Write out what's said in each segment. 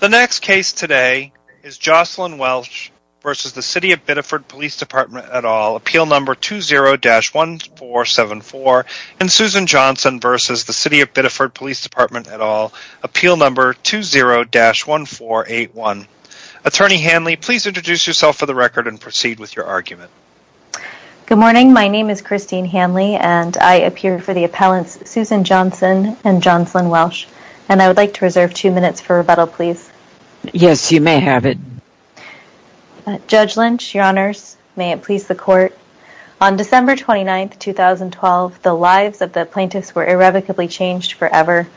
The next case today is Jocelyn Welch v. City of Biddeford Police Dep't et al. Appeal number 20-1474 and Susan Johnson v. City of Biddeford Police Dep't et al. Appeal number 20-1481. Attorney Hanley, please introduce yourself for the record and proceed with your argument. Good morning, my name is Christine Hanley and I appear for the appellants Susan Johnson and Jocelyn Welch and I would like to reserve two minutes for rebuttal please. Yes, you may have it. Judge Lynch, your honors, may it please the court. On December 29, 2012, the lives of the plaintiffs were irrevocably changed forever.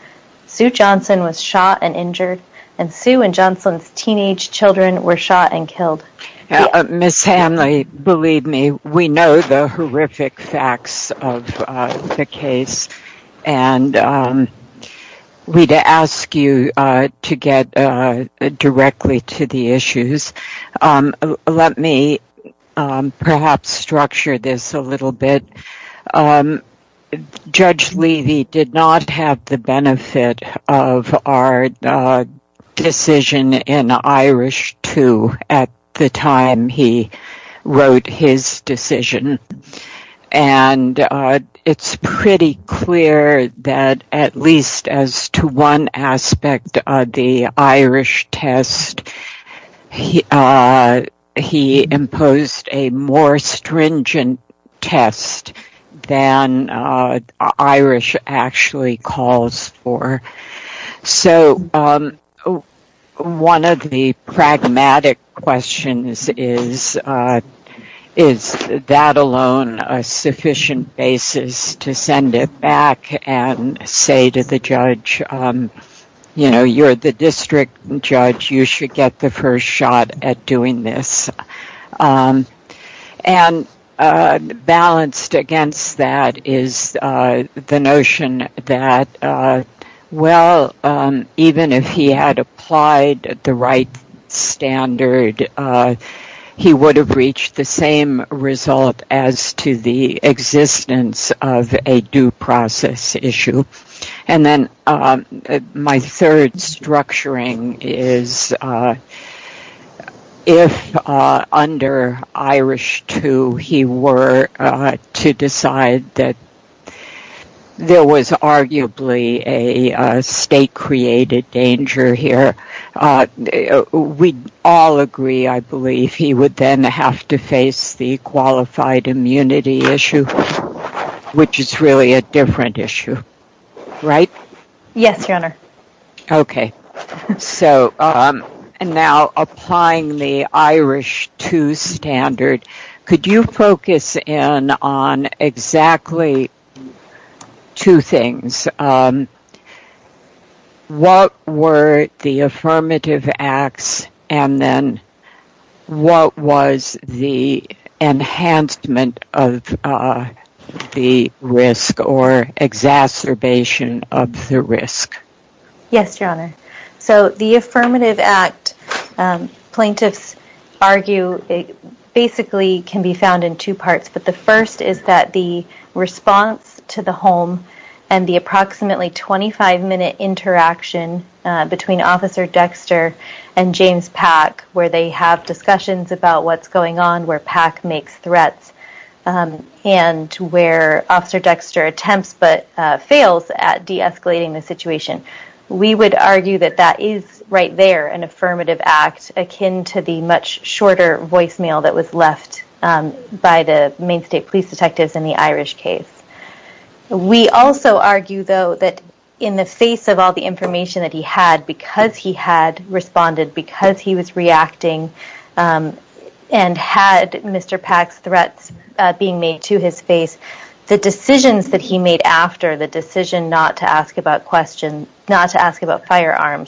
Sue Johnson was shot and injured and Sue and Jocelyn's teenage children were shot and killed. Ms. Hanley, believe me, we know the horrific facts of the case and we ask you to get directly to the issues. Let me perhaps structure this a little bit. Judge Levy did not have the benefit of our decision in Irish 2 at the time he wrote his decision and it's pretty clear that at least as to one aspect of the Irish test, he imposed a more stringent test than Irish actually calls for. So, one of the pragmatic questions is, is that alone a sufficient basis to send it back and say to the judge, you know, you're the district judge, you should get the first shot at doing this. And balanced against that is the notion that, well, even if he had applied the right standard, he would have reached the same result as to the existence of a due process issue. And then my third structuring is, if under Irish 2 he were to decide that there was arguably a state-created danger here, we'd all agree, I believe, he would then have to face the same risk, right? Yes, Your Honor. Okay. So, now applying the Irish 2 standard, could you focus in on exactly two things? One is, what were the affirmative acts and then what was the enhancement of the risk or exacerbation of the risk? Yes, Your Honor. So, the affirmative act, plaintiffs argue, basically can be found in two parts. But the first is that the response to the home and the approximately 25-minute interaction between Officer Dexter and James Pack, where they have discussions about what's going on, where Pack makes threats, and where Officer Dexter attempts but fails at de-escalating the situation. We would argue that that is, right there, an affirmative act, akin to the much shorter voicemail that was left by the Maine State Police detectives in the Irish case. We also argue, though, that in the face of all the information that he had, because he had responded, because he was reacting and had Mr. Pack's threats being made to his face, the decisions that he made after, the decision not to ask about questions, not to ask about custody, and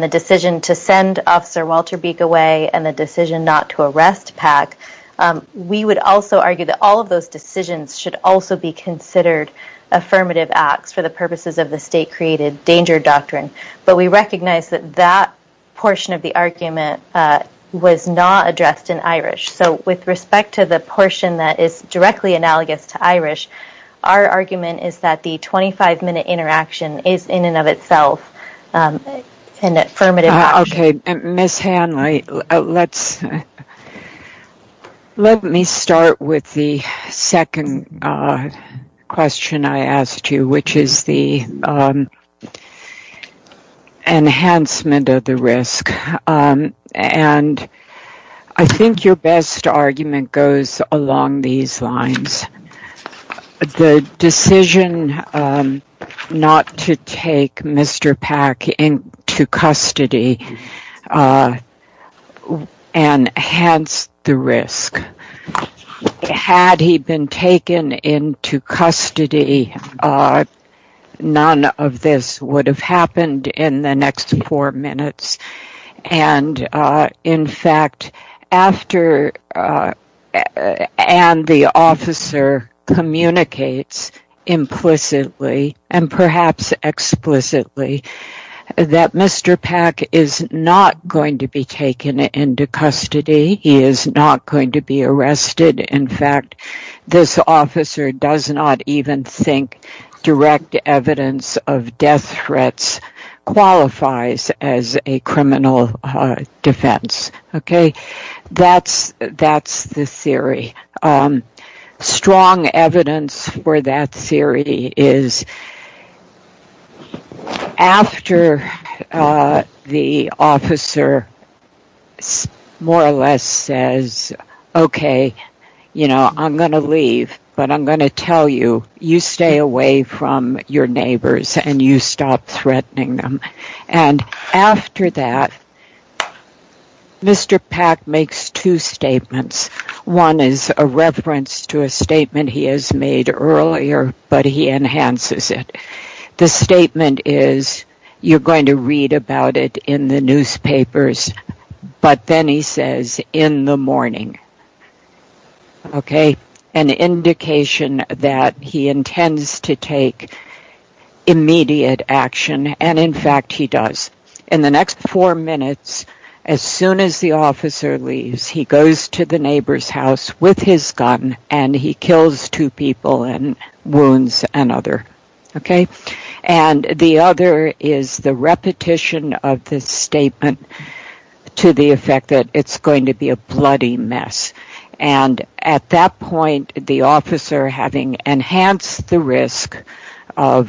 the decision to send Officer Walter Beek away, and the decision not to arrest Pack, we would also argue that all of those decisions should also be considered affirmative acts for the purposes of the state-created danger doctrine. But we recognize that that portion of the argument was not addressed in Irish. So, with respect to the portion that is directly analogous to Irish, our argument is that the affirmative action... Okay, Ms. Hanley, let me start with the second question I asked you, which is the enhancement of the risk. And I think your best argument goes along these lines. The decision not to take Mr. Pack into custody enhanced the risk. Had he been taken into custody, none of this would have happened in the next four minutes. And, in fact, after, and the officer communicates implicitly, and perhaps explicitly, that Mr. Pack is not going to be taken into custody, he is not going to be arrested. In fact, this officer does not even think direct evidence of death threats qualifies as a criminal defense. Okay? That's the theory. The strong evidence for that theory is after the officer more or less says, okay, you know, I'm going to leave, but I'm going to tell you, you stay away from your neighbors and you stop threatening them. And after that, Mr. Pack makes two statements. One is a reference to a statement he has made earlier, but he enhances it. The statement is, you're going to read about it in the newspapers, but then he says, in the morning. Okay? This is an indication that he intends to take immediate action. And, in fact, he does. In the next four minutes, as soon as the officer leaves, he goes to the neighbor's house with his gun and he kills two people and wounds another. Okay? And the other is the repetition of this statement to the effect that it's going to be a bloody mess. And, at that point, the officer, having enhanced the risk by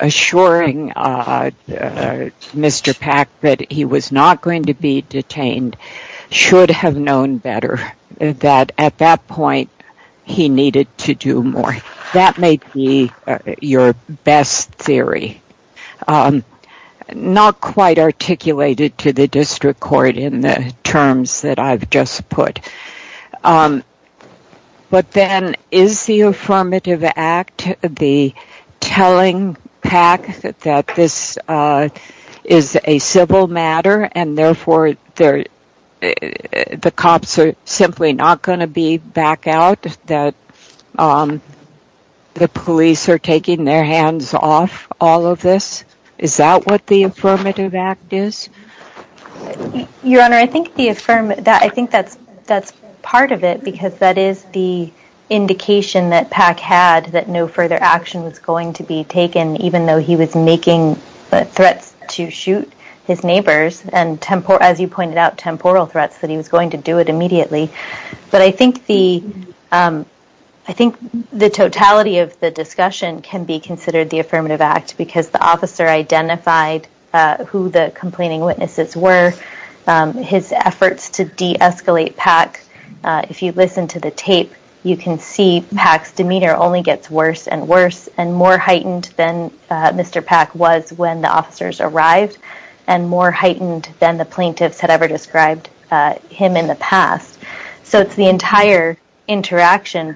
assuring Mr. Pack that he was not going to be detained, should have known better that, at that point, he needed to do more. That may be your best theory. Not quite articulated to the district court in the terms that I've just put. But then, is the Affirmative Act the telling Pack that this is a civil matter and, therefore, the cops are simply not going to be back out? That the police are taking their hands off all of this? Is that what the Affirmative Act is? Your Honor, I think that's part of it because that is the indication that Pack had that no further action was going to be taken, even though he was making threats to shoot his family. He pointed out temporal threats that he was going to do it immediately. But I think the totality of the discussion can be considered the Affirmative Act because the officer identified who the complaining witnesses were, his efforts to de-escalate Pack. If you listen to the tape, you can see Pack's demeanor only gets worse and worse and more heightened than Mr. Pack was when the officers arrived and more heightened than the plaintiffs had ever described him in the past. So, it's the entire interaction.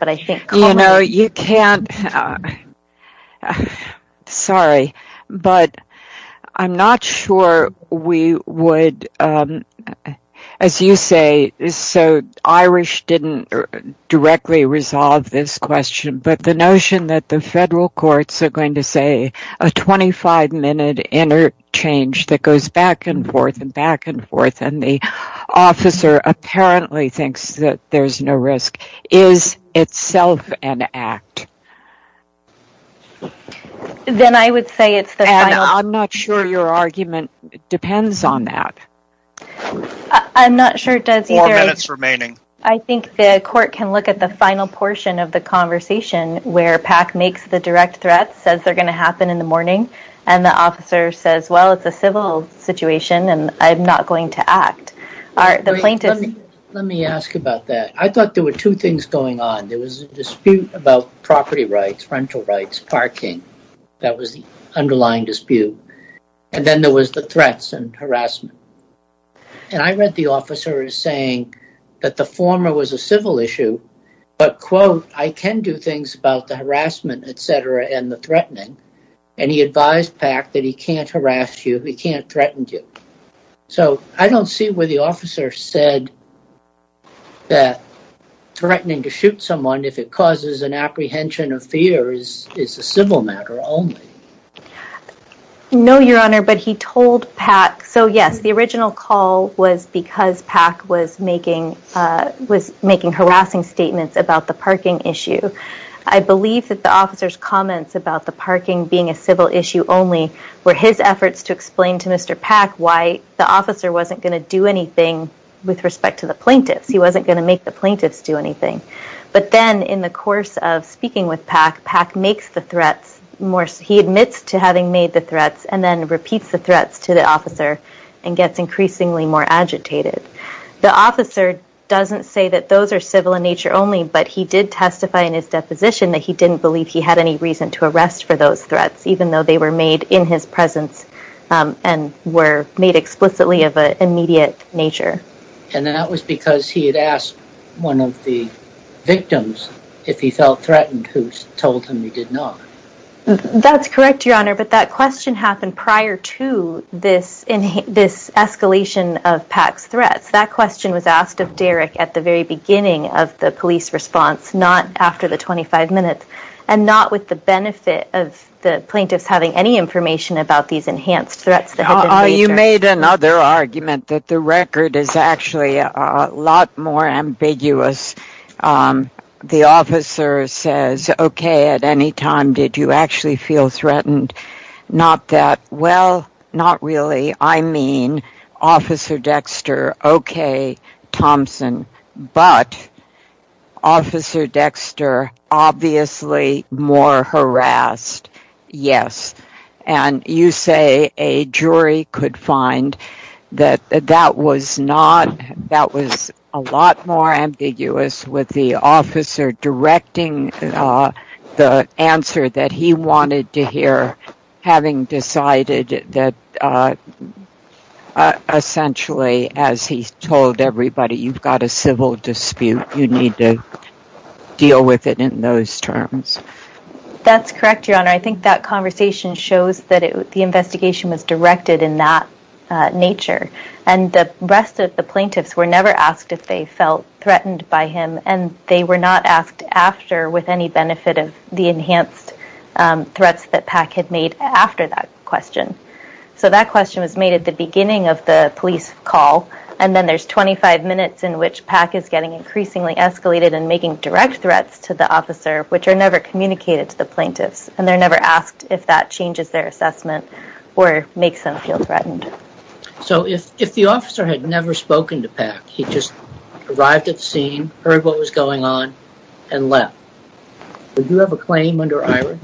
You know, you can't, sorry, but I'm not sure we would, as you say, so Irish didn't directly resolve this question, but the notion that the federal courts are going to say a 25-minute interchange that goes back and forth and back and forth and the officer apparently thinks that there's no risk is itself an act. Then I would say it's the final. And I'm not sure your argument depends on that. I'm not sure it does either. Four minutes remaining. I think the court can look at the final portion of the conversation where Pack makes the direct threat, says they're going to happen in the morning, and the officer says, well, it's a civil situation and I'm not going to act. Let me ask about that. I thought there were two things going on. There was a dispute about property rights, rental rights, parking. That was the underlying dispute. And then there was the threats and harassment. And I read the officer saying that the former was a civil issue, but, quote, I can do things about the harassment, et cetera, and the threatening. And he advised Pack that he can't harass you, he can't threaten you. So I don't see where the officer said that threatening to shoot someone if it causes an apprehension of fear is a civil matter only. No, Your Honor, but he told Pack. So, yes, the original call was because Pack was making harassing statements about the parking. I believe that the officer's comments about the parking being a civil issue only were his efforts to explain to Mr. Pack why the officer wasn't going to do anything with respect to the plaintiffs. He wasn't going to make the plaintiffs do anything. But then in the course of speaking with Pack, Pack makes the threats, he admits to having made the threats and then repeats the threats to the officer and gets increasingly more agitated. The officer doesn't say that those are civil in nature only, but he did testify in his deposition that he didn't believe he had any reason to arrest for those threats, even though they were made in his presence and were made explicitly of an immediate nature. And that was because he had asked one of the victims if he felt threatened, who told him he did not. That's correct, Your Honor, but that question happened prior to this escalation of Pack's threats. That question was asked of Derek at the very beginning of the police response, not after the 25 minutes, and not with the benefit of the plaintiffs having any information about these enhanced threats. You made another argument that the record is actually a lot more ambiguous. The officer says, okay, at any time did you actually feel threatened? Not that, well, not really. I mean, Officer Dexter, okay, Thompson, but Officer Dexter obviously more harassed, yes. And you say a jury could find that that was not, that was a lot more ambiguous with the essentially, as he told everybody, you've got a civil dispute. You need to deal with it in those terms. That's correct, Your Honor. I think that conversation shows that the investigation was directed in that nature. And the rest of the plaintiffs were never asked if they felt threatened by him, and they were not asked after with any benefit of the enhanced threats that Pack had made after that question. So that question was made at the beginning of the police call, and then there's 25 minutes in which Pack is getting increasingly escalated and making direct threats to the officer, which are never communicated to the plaintiffs. And they're never asked if that changes their assessment or makes them feel threatened. So if the officer had never spoken to Pack, he just arrived at the scene, heard what was going on, and left, would you have a claim under IHRA?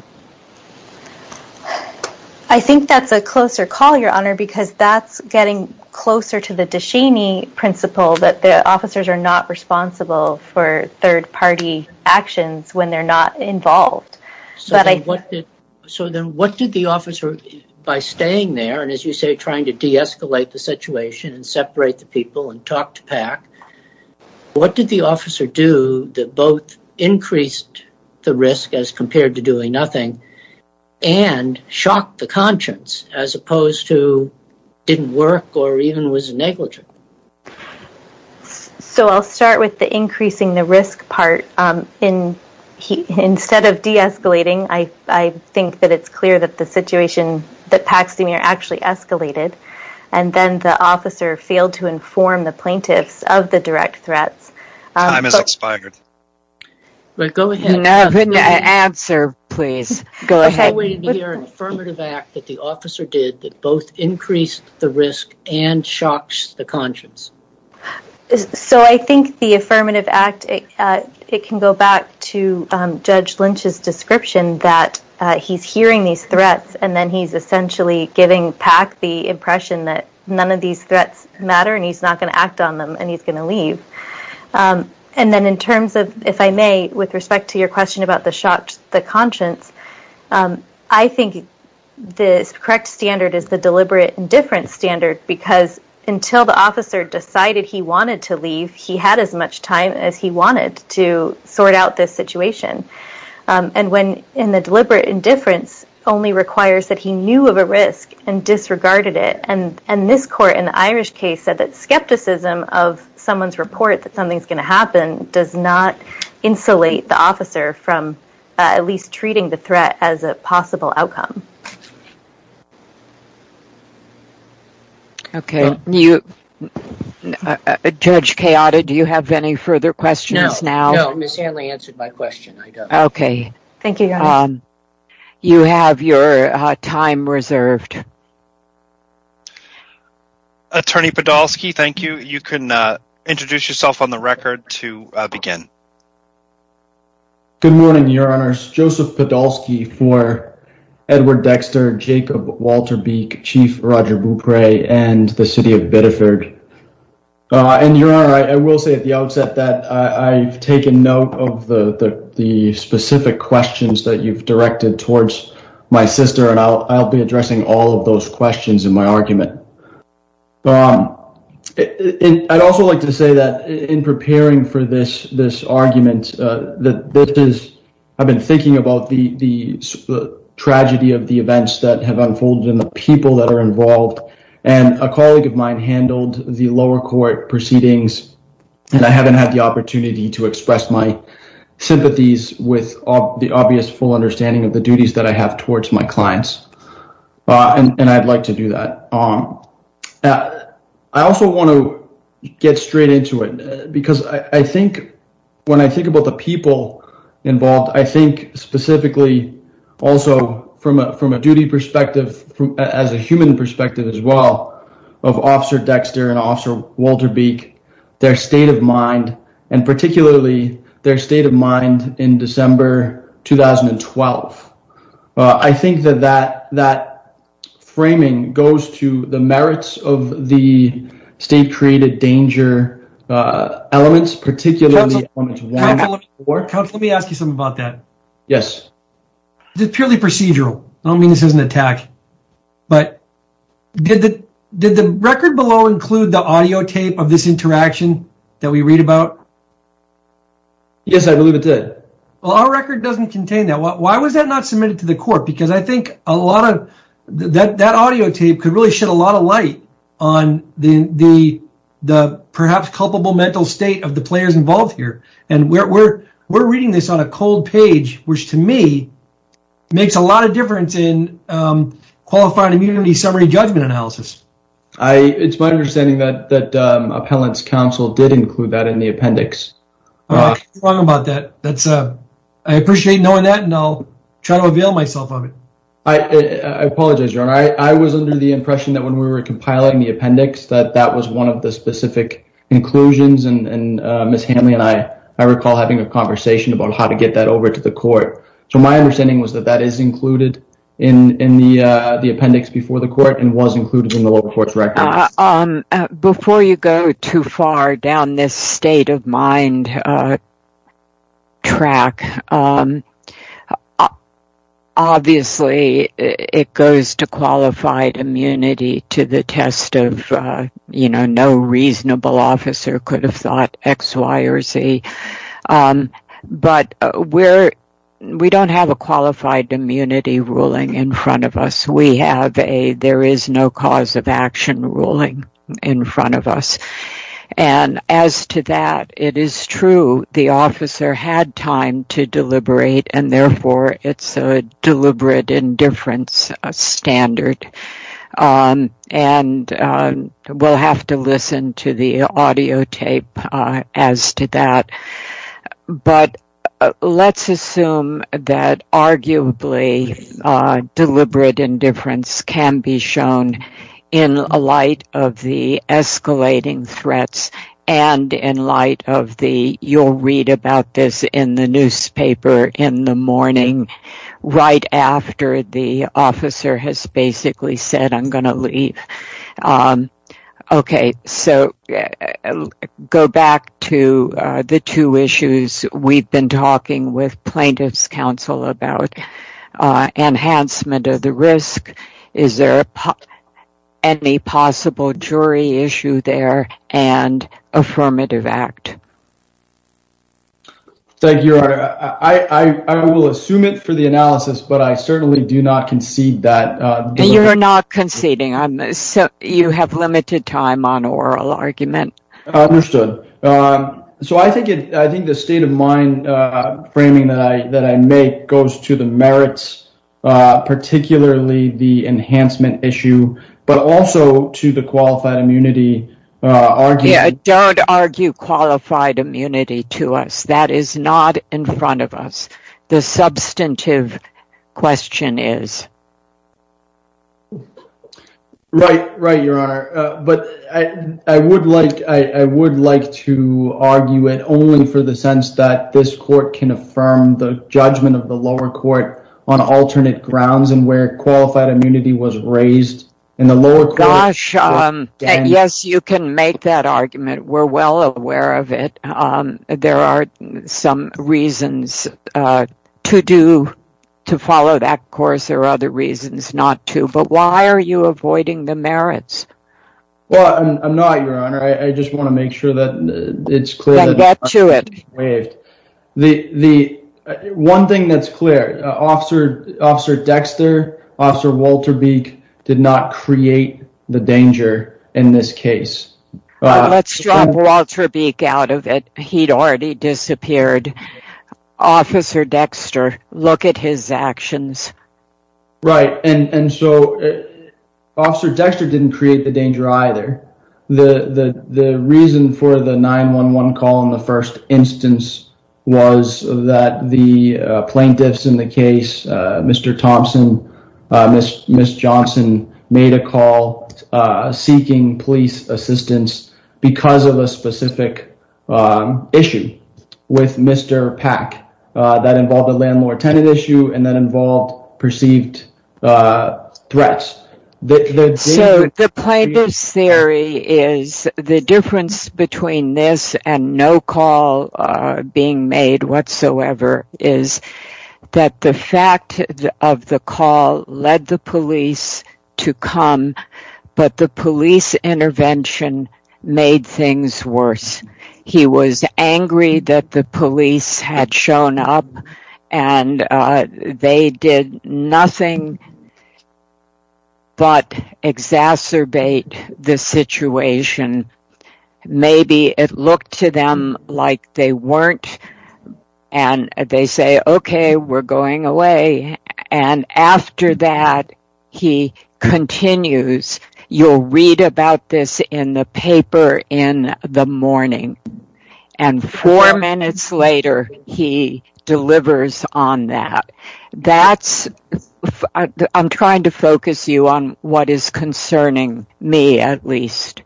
I think that's a closer call, Your Honor, because that's getting closer to the Deshaney principle that the officers are not responsible for third-party actions when they're not involved. So then what did the officer, by staying there, and as you say, trying to de-escalate the situation and separate the people and talk to Pack, what did the officer do that both increased the risk as compared to doing nothing, and shocked the conscience, as opposed to didn't work or even was negligent? So I'll start with the increasing the risk part. Instead of de-escalating, I think that it's clear that the situation that Pack's seen actually escalated, and then the officer failed to inform the plaintiffs of the direct threats. Time has expired. Go ahead. Answer, please. Go ahead. Is there an affirmative act that the officer did that both increased the risk and shocked the conscience? So I think the affirmative act, it can go back to Judge Lynch's description that he's hearing these threats, and then he's essentially giving Pack the impression that none of these And then in terms of, if I may, with respect to your question about the shock to the conscience, I think the correct standard is the deliberate indifference standard, because until the officer decided he wanted to leave, he had as much time as he wanted to sort out this situation. And when the deliberate indifference only requires that he knew of a risk and disregarded it. And this court in the Irish case said that skepticism of someone's report that something's going to happen does not insulate the officer from at least treating the threat as a possible outcome. Okay. Judge Chaota, do you have any further questions now? No. No. I don't. Okay. Thank you, Your Honor. You have your time reserved. Attorney Podolsky, thank you. You can introduce yourself on the record to begin. Good morning, Your Honors. Joseph Podolsky for Edward Dexter, Jacob Walter Beek, Chief Roger Bupre, and the City of Biddeford. And Your Honor, I will say at the outset that I've taken note of the specific questions that you've directed towards my sister, and I'll be addressing all of those questions in my argument. I'd also like to say that in preparing for this argument, I've been thinking about the tragedy of the events that have unfolded and the people that are involved. And a colleague of mine handled the lower court proceedings, and I haven't had the opportunity to express my sympathies with the obvious full understanding of the duties that I have towards my clients, and I'd like to do that. I also want to get straight into it, because I think when I think about the people involved, I think specifically also from a duty perspective, as a human perspective as well, of Officer their state of mind in December 2012. I think that that framing goes to the merits of the state-created danger elements, particularly elements 1 and 4. Counselor, let me ask you something about that. Yes. This is purely procedural. I don't mean this as an attack, but did the record below include the audio tape of this Yes, I believe it did. Well, our record doesn't contain that. Why was that not submitted to the court? Because I think that audio tape could really shed a lot of light on the perhaps culpable mental state of the players involved here, and we're reading this on a cold page, which to me makes a lot of difference in qualifying immunity summary judgment analysis. It's my understanding that Appellant's Counsel did include that in the appendix. I can't talk about that. I appreciate knowing that, and I'll try to avail myself of it. I apologize, Your Honor. I was under the impression that when we were compiling the appendix that that was one of the specific inclusions, and Ms. Hanley and I, I recall having a conversation about how to get that over to the court. So my understanding was that that is included in the appendix before the court and was included in the local court's records. Before you go too far down this state of mind track, obviously it goes to qualified immunity to the test of no reasonable officer could have thought X, Y, or Z, but we don't have a qualified immunity ruling in front of us. We have a there is no cause of action ruling in front of us. And as to that, it is true the officer had time to deliberate, and therefore it's a deliberate indifference standard, and we'll have to listen to the audio tape as to that. But let's assume that arguably deliberate indifference can be shown in light of the escalating threats and in light of the you'll read about this in the newspaper in the morning right after the officer has basically said I'm going to leave. Okay, so go back to the two issues we've been talking with plaintiff's counsel about. Enhancement of the risk. Is there any possible jury issue there and affirmative act? Thank you. I will assume it for the analysis, but I certainly do not concede that. You're not conceding. You have limited time on oral argument. Understood. So I think the state of mind framing that I make goes to the merits, particularly the enhancement issue, but also to the qualified immunity argument. Don't argue qualified immunity to us. That is not in front of us. The substantive question is. Right, right. Your Honor. But I would like I would like to argue it only for the sense that this court can affirm the judgment of the lower court on alternate grounds and where qualified immunity was raised in the lower gosh. Yes, you can make that argument. We're well aware of it. There are some reasons to do to follow that course. There are other reasons not to. But why are you avoiding the merits? Well, I'm not, Your Honor. I just want to make sure that it's clear. Then get to it. The one thing that's clear, Officer Dexter, Officer Walter Beek did not create the danger in this case. Let's drop Walter Beek out of it. He'd already disappeared. Officer Dexter, look at his actions. Right. And so Officer Dexter didn't create the danger either. The reason for the 911 call in the first instance was that the plaintiffs in the case, Mr. because of a specific issue with Mr. Pack that involved a landlord tenant issue and that involved perceived threats. So the plaintiff's theory is the difference between this and no call being made whatsoever is that the fact of the call led the police to come. But the police intervention made things worse. He was angry that the police had shown up and they did nothing but exacerbate the situation. Maybe it looked to them like they weren't. And they say, OK, we're going away. And after that, he continues, you'll read about this in the paper in the morning. And four minutes later, he delivers on that. That's, I'm trying to focus you on what is concerning me at least.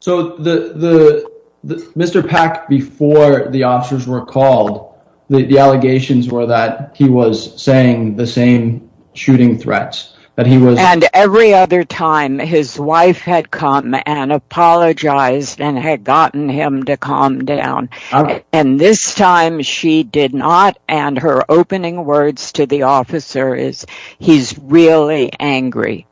So the Mr. Pack, before the officers were called, the allegations were that he was saying the same shooting threats that he was. And every other time his wife had come and apologized and had gotten him to calm down. And this time she did not. And her opening words to the officer is he's really angry.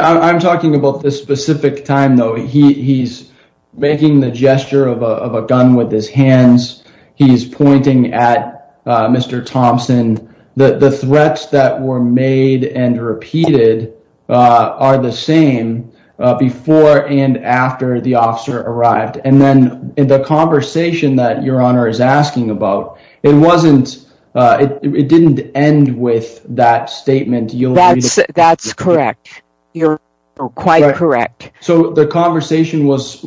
I'm talking about this specific time, though. He's making the gesture of a gun with his hands. He's pointing at Mr. Thompson. The threats that were made and repeated are the same before and after the officer arrived. And then in the conversation that your honor is asking about, it wasn't it didn't end with that statement. That's correct. You're quite correct. So the conversation was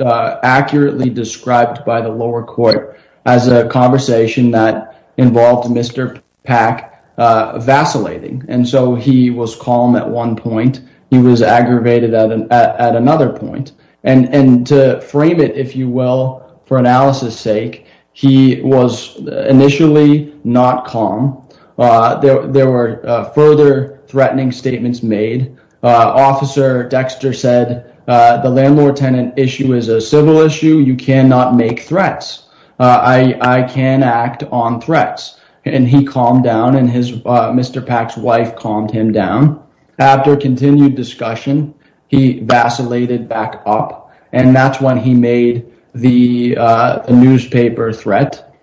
accurately described by the lower court as a conversation that involved Mr. Pack vacillating. And so he was calm at one point. He was aggravated at another point. And to frame it, if you will, for analysis sake, he was initially not calm. There were further threatening statements made. Officer Dexter said the landlord tenant issue is a civil issue. You cannot make threats. I can act on threats. And he calmed down and his Mr. Pack's wife calmed him down. After continued discussion, he vacillated back up. And that's when he made the newspaper threat,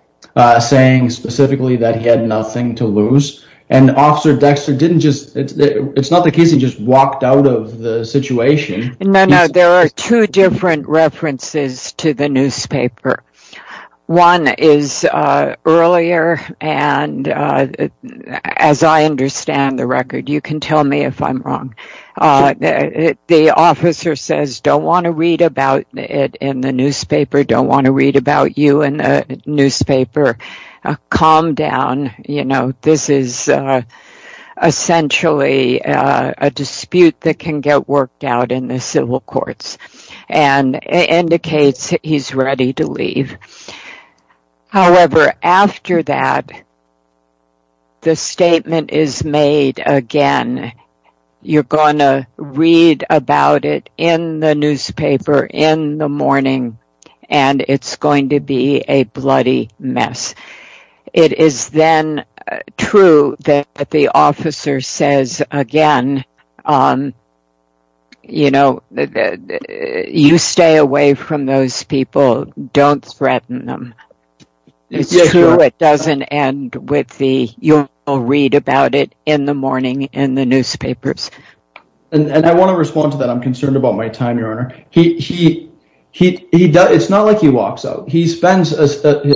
saying specifically that he had nothing to lose. And Officer Dexter didn't just it's not the case. He just walked out of the situation. There are two different references to the newspaper. One is earlier. And as I understand the record, you can tell me if I'm wrong. The officer says, don't want to read about it in the newspaper. Don't want to read about you in the newspaper. Calm down. You know, this is essentially a dispute that can get worked out in the civil courts and indicates he's ready to leave. However, after that, the statement is made again. You're going to read about it in the newspaper in the morning and it's going to be a bloody mess. It is then true that the officer says again, you know, you stay away from those people. Don't threaten them. It's true it doesn't end with the you'll read about it in the morning in the newspapers. And I want to respond to that. I'm concerned about my time, Your Honor. He he he does. It's not like he walks out. He spends a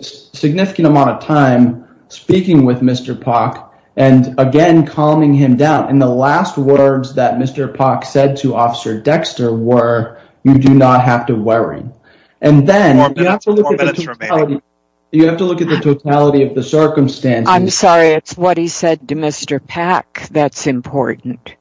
significant amount of time speaking with Mr. Park and again, calming him down. And the last words that Mr. Park said to Officer Dexter were you do not have to worry. And then you have to look at the totality of the circumstance. I'm sorry. It's what he said to Mr. Pack. That's important.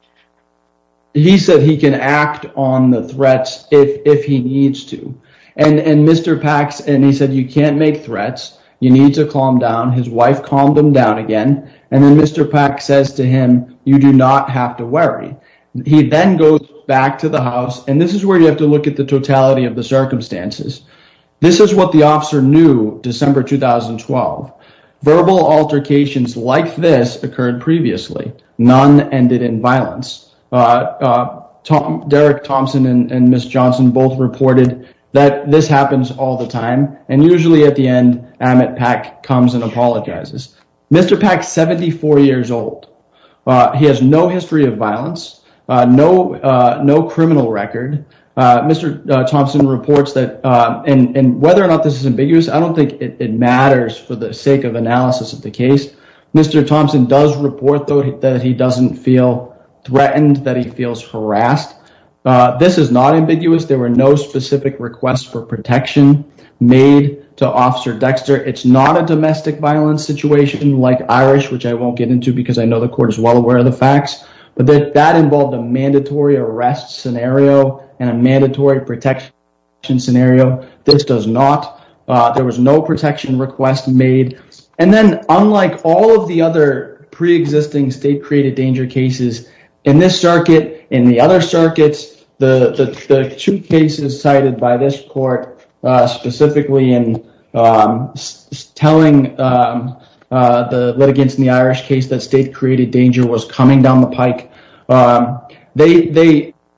He said he can act on the threats if he needs to. And Mr. Pax and he said, you can't make threats. You need to calm down. His wife calmed him down again. And then Mr. Pack says to him, you do not have to worry. He then goes back to the house. And this is where you have to look at the totality of the circumstances. This is what the officer knew December 2012. Verbal altercations like this occurred previously. None ended in violence. Derek Thompson and Miss Johnson both reported that this happens all the time. And usually at the end, Amit Pack comes and apologizes. Mr. Pack is 74 years old. He has no history of violence. No criminal record. Mr. Thompson reports that and whether or not this is ambiguous, I don't think it matters for the sake of analysis of the case. Mr. Thompson does report, though, that he doesn't feel threatened, that he feels harassed. This is not ambiguous. There were no specific requests for protection made to Officer Dexter. It's not a domestic violence situation like Irish, which I won't get into because I know the court is well aware of the facts. But that involved a mandatory arrest scenario and a mandatory protection scenario. This does not. There was no protection request made. And then unlike all of the other preexisting state-created danger cases in this circuit, in the other circuits, the two cases cited by this court specifically in telling the litigants in the Irish case that state-created danger was coming down the pike,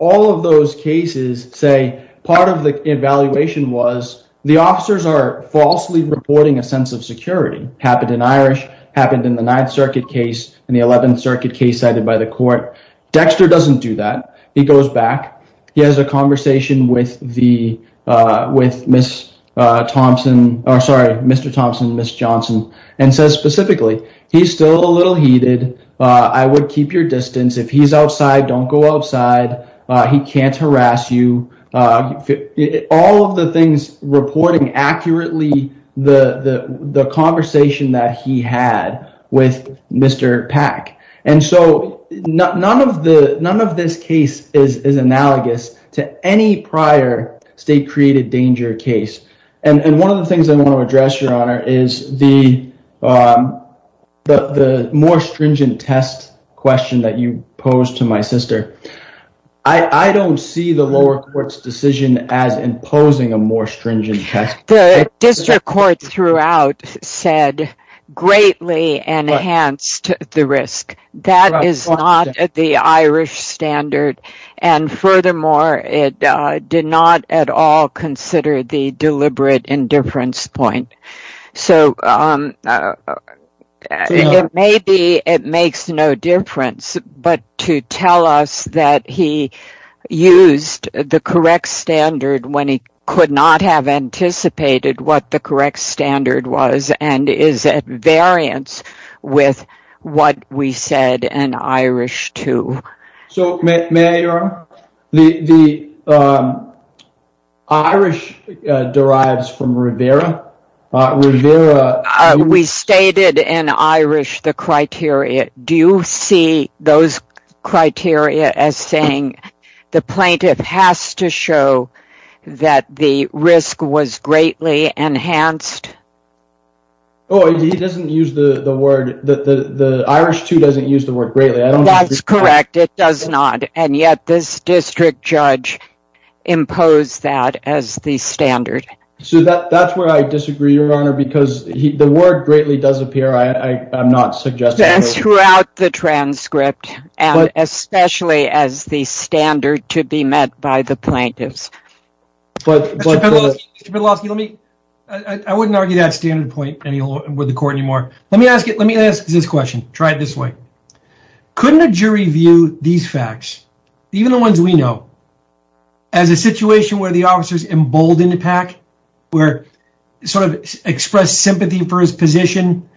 all of those cases say part of the evaluation was the officers are falsely reporting a sense of security. Happened in Irish. Happened in the 9th Circuit case and the 11th Circuit case cited by the court. Dexter doesn't do that. He goes back. He has a conversation with Ms. Thompson, sorry, Mr. Thompson and Ms. Johnson and says specifically, he's still a little heated. I would keep your distance. If he's outside, don't go outside. He can't harass you. All of the things reporting accurately the conversation that he had with Mr. Pack. And so none of this case is analogous to any prior state-created danger case. And one of the things I want to address, Your Honor, is the more stringent test question that you posed to my sister. I don't see the lower court's decision as imposing a more stringent test. The district court throughout said greatly enhanced the risk. That is not the Irish standard. And furthermore, it did not at all consider the deliberate indifference point. So maybe it makes no difference. But to tell us that he used the correct standard when he could not have anticipated what the correct standard was and is at variance with what we said in Irish 2. So may I, Your Honor? The Irish derives from Rivera. Rivera. We stated in Irish the criteria. Do you see those criteria as saying the plaintiff has to show that the risk was greatly enhanced? Oh, he doesn't use the word. The Irish 2 doesn't use the word greatly. That's correct. It does not. And yet this district judge imposed that as the standard. So that's where I disagree, Your Honor, because the word greatly does appear. I'm not suggesting. That's throughout the transcript and especially as the standard to be met by the plaintiffs. Mr. Petlosky, I wouldn't argue that standard point with the court anymore. Let me ask this question. Try it this way. Couldn't a jury view these facts, even the ones we know, as a situation where the officers emboldened Pack, sort of expressed sympathy for his position,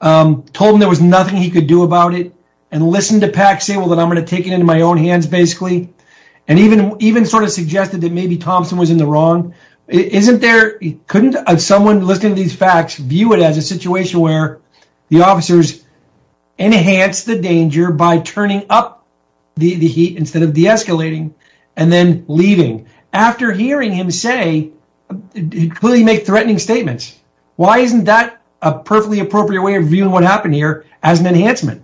told him there was nothing he could do about it, and listened to Pack say, well, I'm going to take it into my own hands basically, and even sort of suggested that maybe Thompson was in the wrong? Couldn't someone listening to these facts view it as a situation where the officer enhanced the danger by turning up the heat instead of de-escalating and then leaving? After hearing him say, clearly make threatening statements. Why isn't that a perfectly appropriate way of viewing what happened here as an enhancement?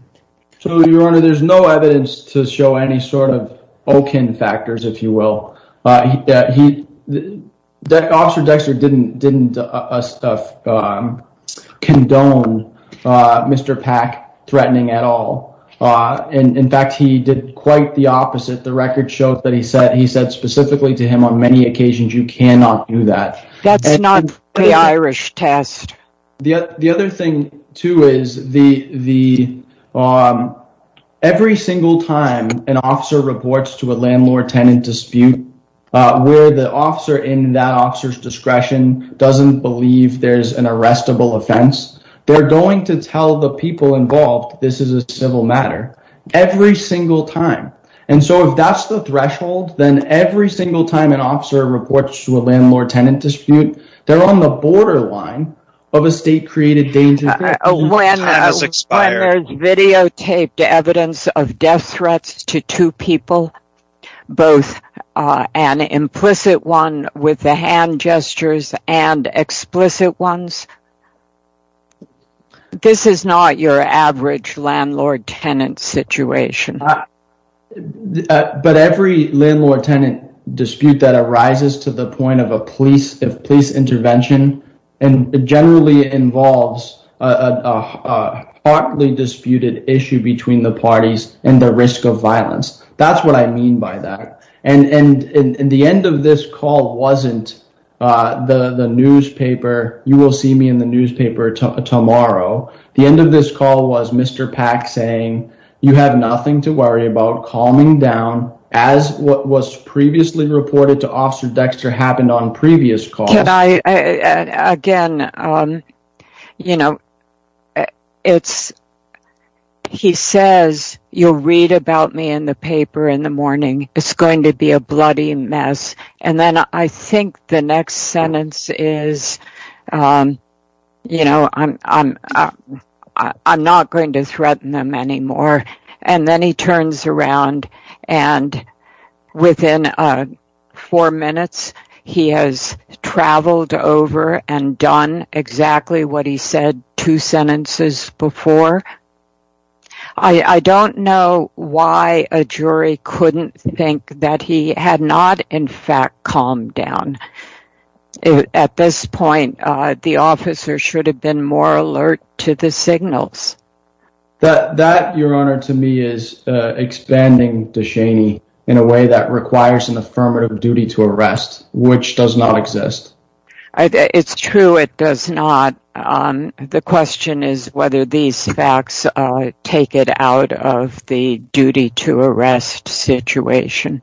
So, Your Honor, there's no evidence to show any sort of Okun factors, if you will. Officer Dexter didn't condone Mr. Pack threatening at all. In fact, he did quite the opposite. The record shows that he said specifically to him on many occasions, you cannot do that. That's not the Irish test. The other thing, too, is every single time an officer reports to a landlord tenant dispute where the officer in that officer's discretion doesn't believe there's an arrestable offense, they're going to tell the people involved, this is a civil matter, every single time. And so if that's the threshold, then every single time an officer reports to a landlord tenant dispute, they're on the borderline of a state-created danger. When there's videotaped evidence of death threats to two people, both an implicit one with the hand gestures and explicit ones, this is not your average landlord-tenant situation. But every landlord-tenant dispute that arises to the point of police intervention generally involves a hotly disputed issue between the parties and the risk of violence. That's what I mean by that. And the end of this call wasn't the newspaper, you will see me in the newspaper tomorrow. The end of this call was Mr. Pack saying, you have nothing to worry about calming down as what was previously reported to Officer Dexter happened on previous calls. Again, he says, you'll read about me in the paper in the morning. It's going to be a bloody mess. And then I think the next sentence is, I'm not going to threaten them anymore. And then he turns around and within four minutes, he has traveled over and done exactly what he said two sentences before. I don't know why a jury couldn't think that he had not, in fact, calmed down. At this point, the officer should have been more alert to the signals. That, Your Honor, to me, in a way that requires an affirmative duty to arrest, which does not exist. It's true. It does not. The question is whether these facts take it out of the duty to arrest situation.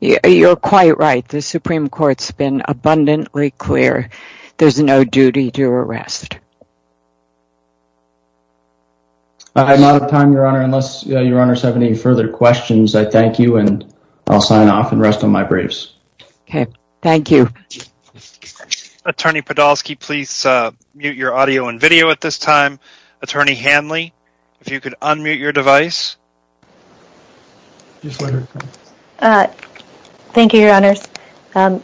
You're quite right. The Supreme Court's been abundantly clear. There's no duty to arrest. I'm out of time, Your Honor, unless Your Honor's have any further questions. I thank you and I'll sign off and rest of my briefs. OK, thank you. Attorney Podolsky, please mute your audio and video at this time. Attorney Hanley, if you could unmute your device. Thank you, Your Honor.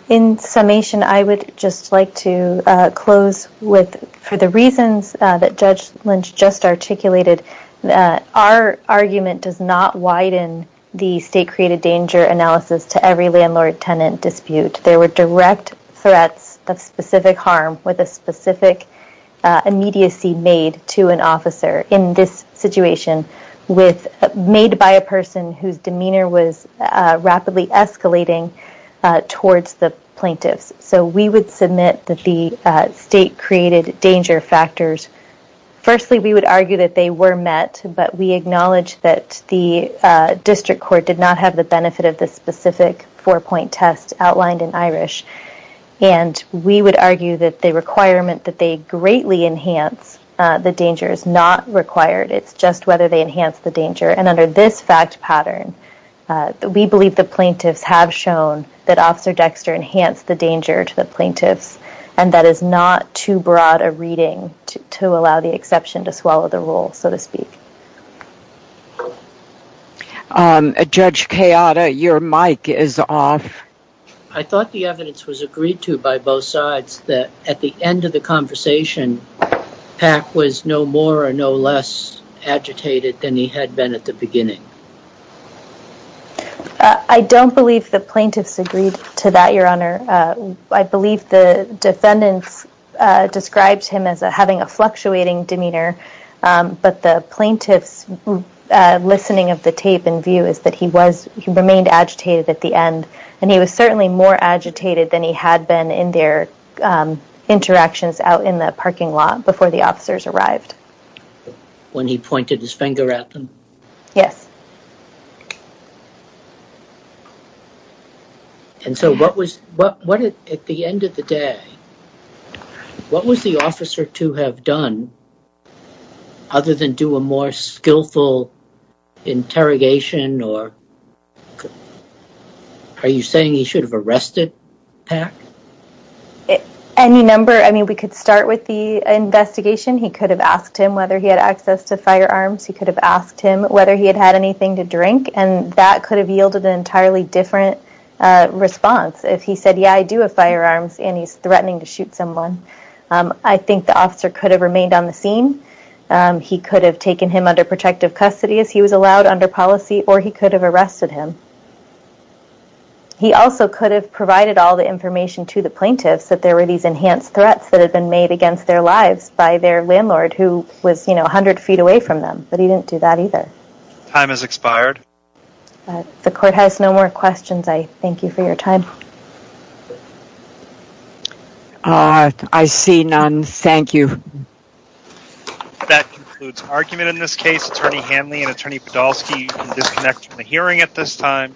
In summation, I would just like to close with for the reasons that Judge Lynch just articulated. Our argument does not widen the state created danger analysis to every landlord tenant dispute. There were direct threats of specific harm with a specific immediacy made to an officer. In this situation, made by a person whose demeanor was rapidly escalating towards the plaintiffs. So we would submit that the state created danger factors. Firstly, we would argue that they were met. But we acknowledge that the district court did not have the benefit of the specific four-point test outlined in Irish. And we would argue that the requirement that they greatly enhance the danger is not required. It's just whether they enhance the danger. And under this fact pattern, we believe the plaintiffs have shown that Officer Dexter enhanced the danger to the plaintiffs. And that is not too broad a reading to allow the exception to swallow the rule, so to speak. Judge Kayada, your mic is off. I thought the evidence was agreed to by both sides that at the end of the conversation, Pack was no more or no less agitated than he had been at the beginning. I don't believe the plaintiffs agreed to that, Your Honor. I believe the defendants described him as having a fluctuating demeanor. But the plaintiff's listening of the tape and view is that he remained agitated at the end. And he was certainly more agitated than he had been in their interactions out in the parking lot before the officers arrived. When he pointed his finger at them? Yes. And so at the end of the day, what was the officer to have done other than do a more skillful interrogation? Are you saying he should have arrested Pack? Any number. I mean, we could start with the investigation. He could have asked him whether he had access to firearms. He could have asked him whether he had had anything to drink. And that could have yielded an entirely different response if he said, yeah, I do have firearms and he's threatening to shoot someone. I think the officer could have remained on the scene. He could have taken him under protective custody as he was allowed under policy or he could have arrested him. He also could have provided all the information to the plaintiffs that there were these enhanced threats that had been made against their lives by their landlord who was, you know, 100 feet away from them. But he didn't do that either. Time has expired. The court has no more questions. I thank you for your time. I see none. Thank you. That concludes argument in this case. Attorney Hanley and Attorney Podolsky, you can disconnect from the hearing at this time.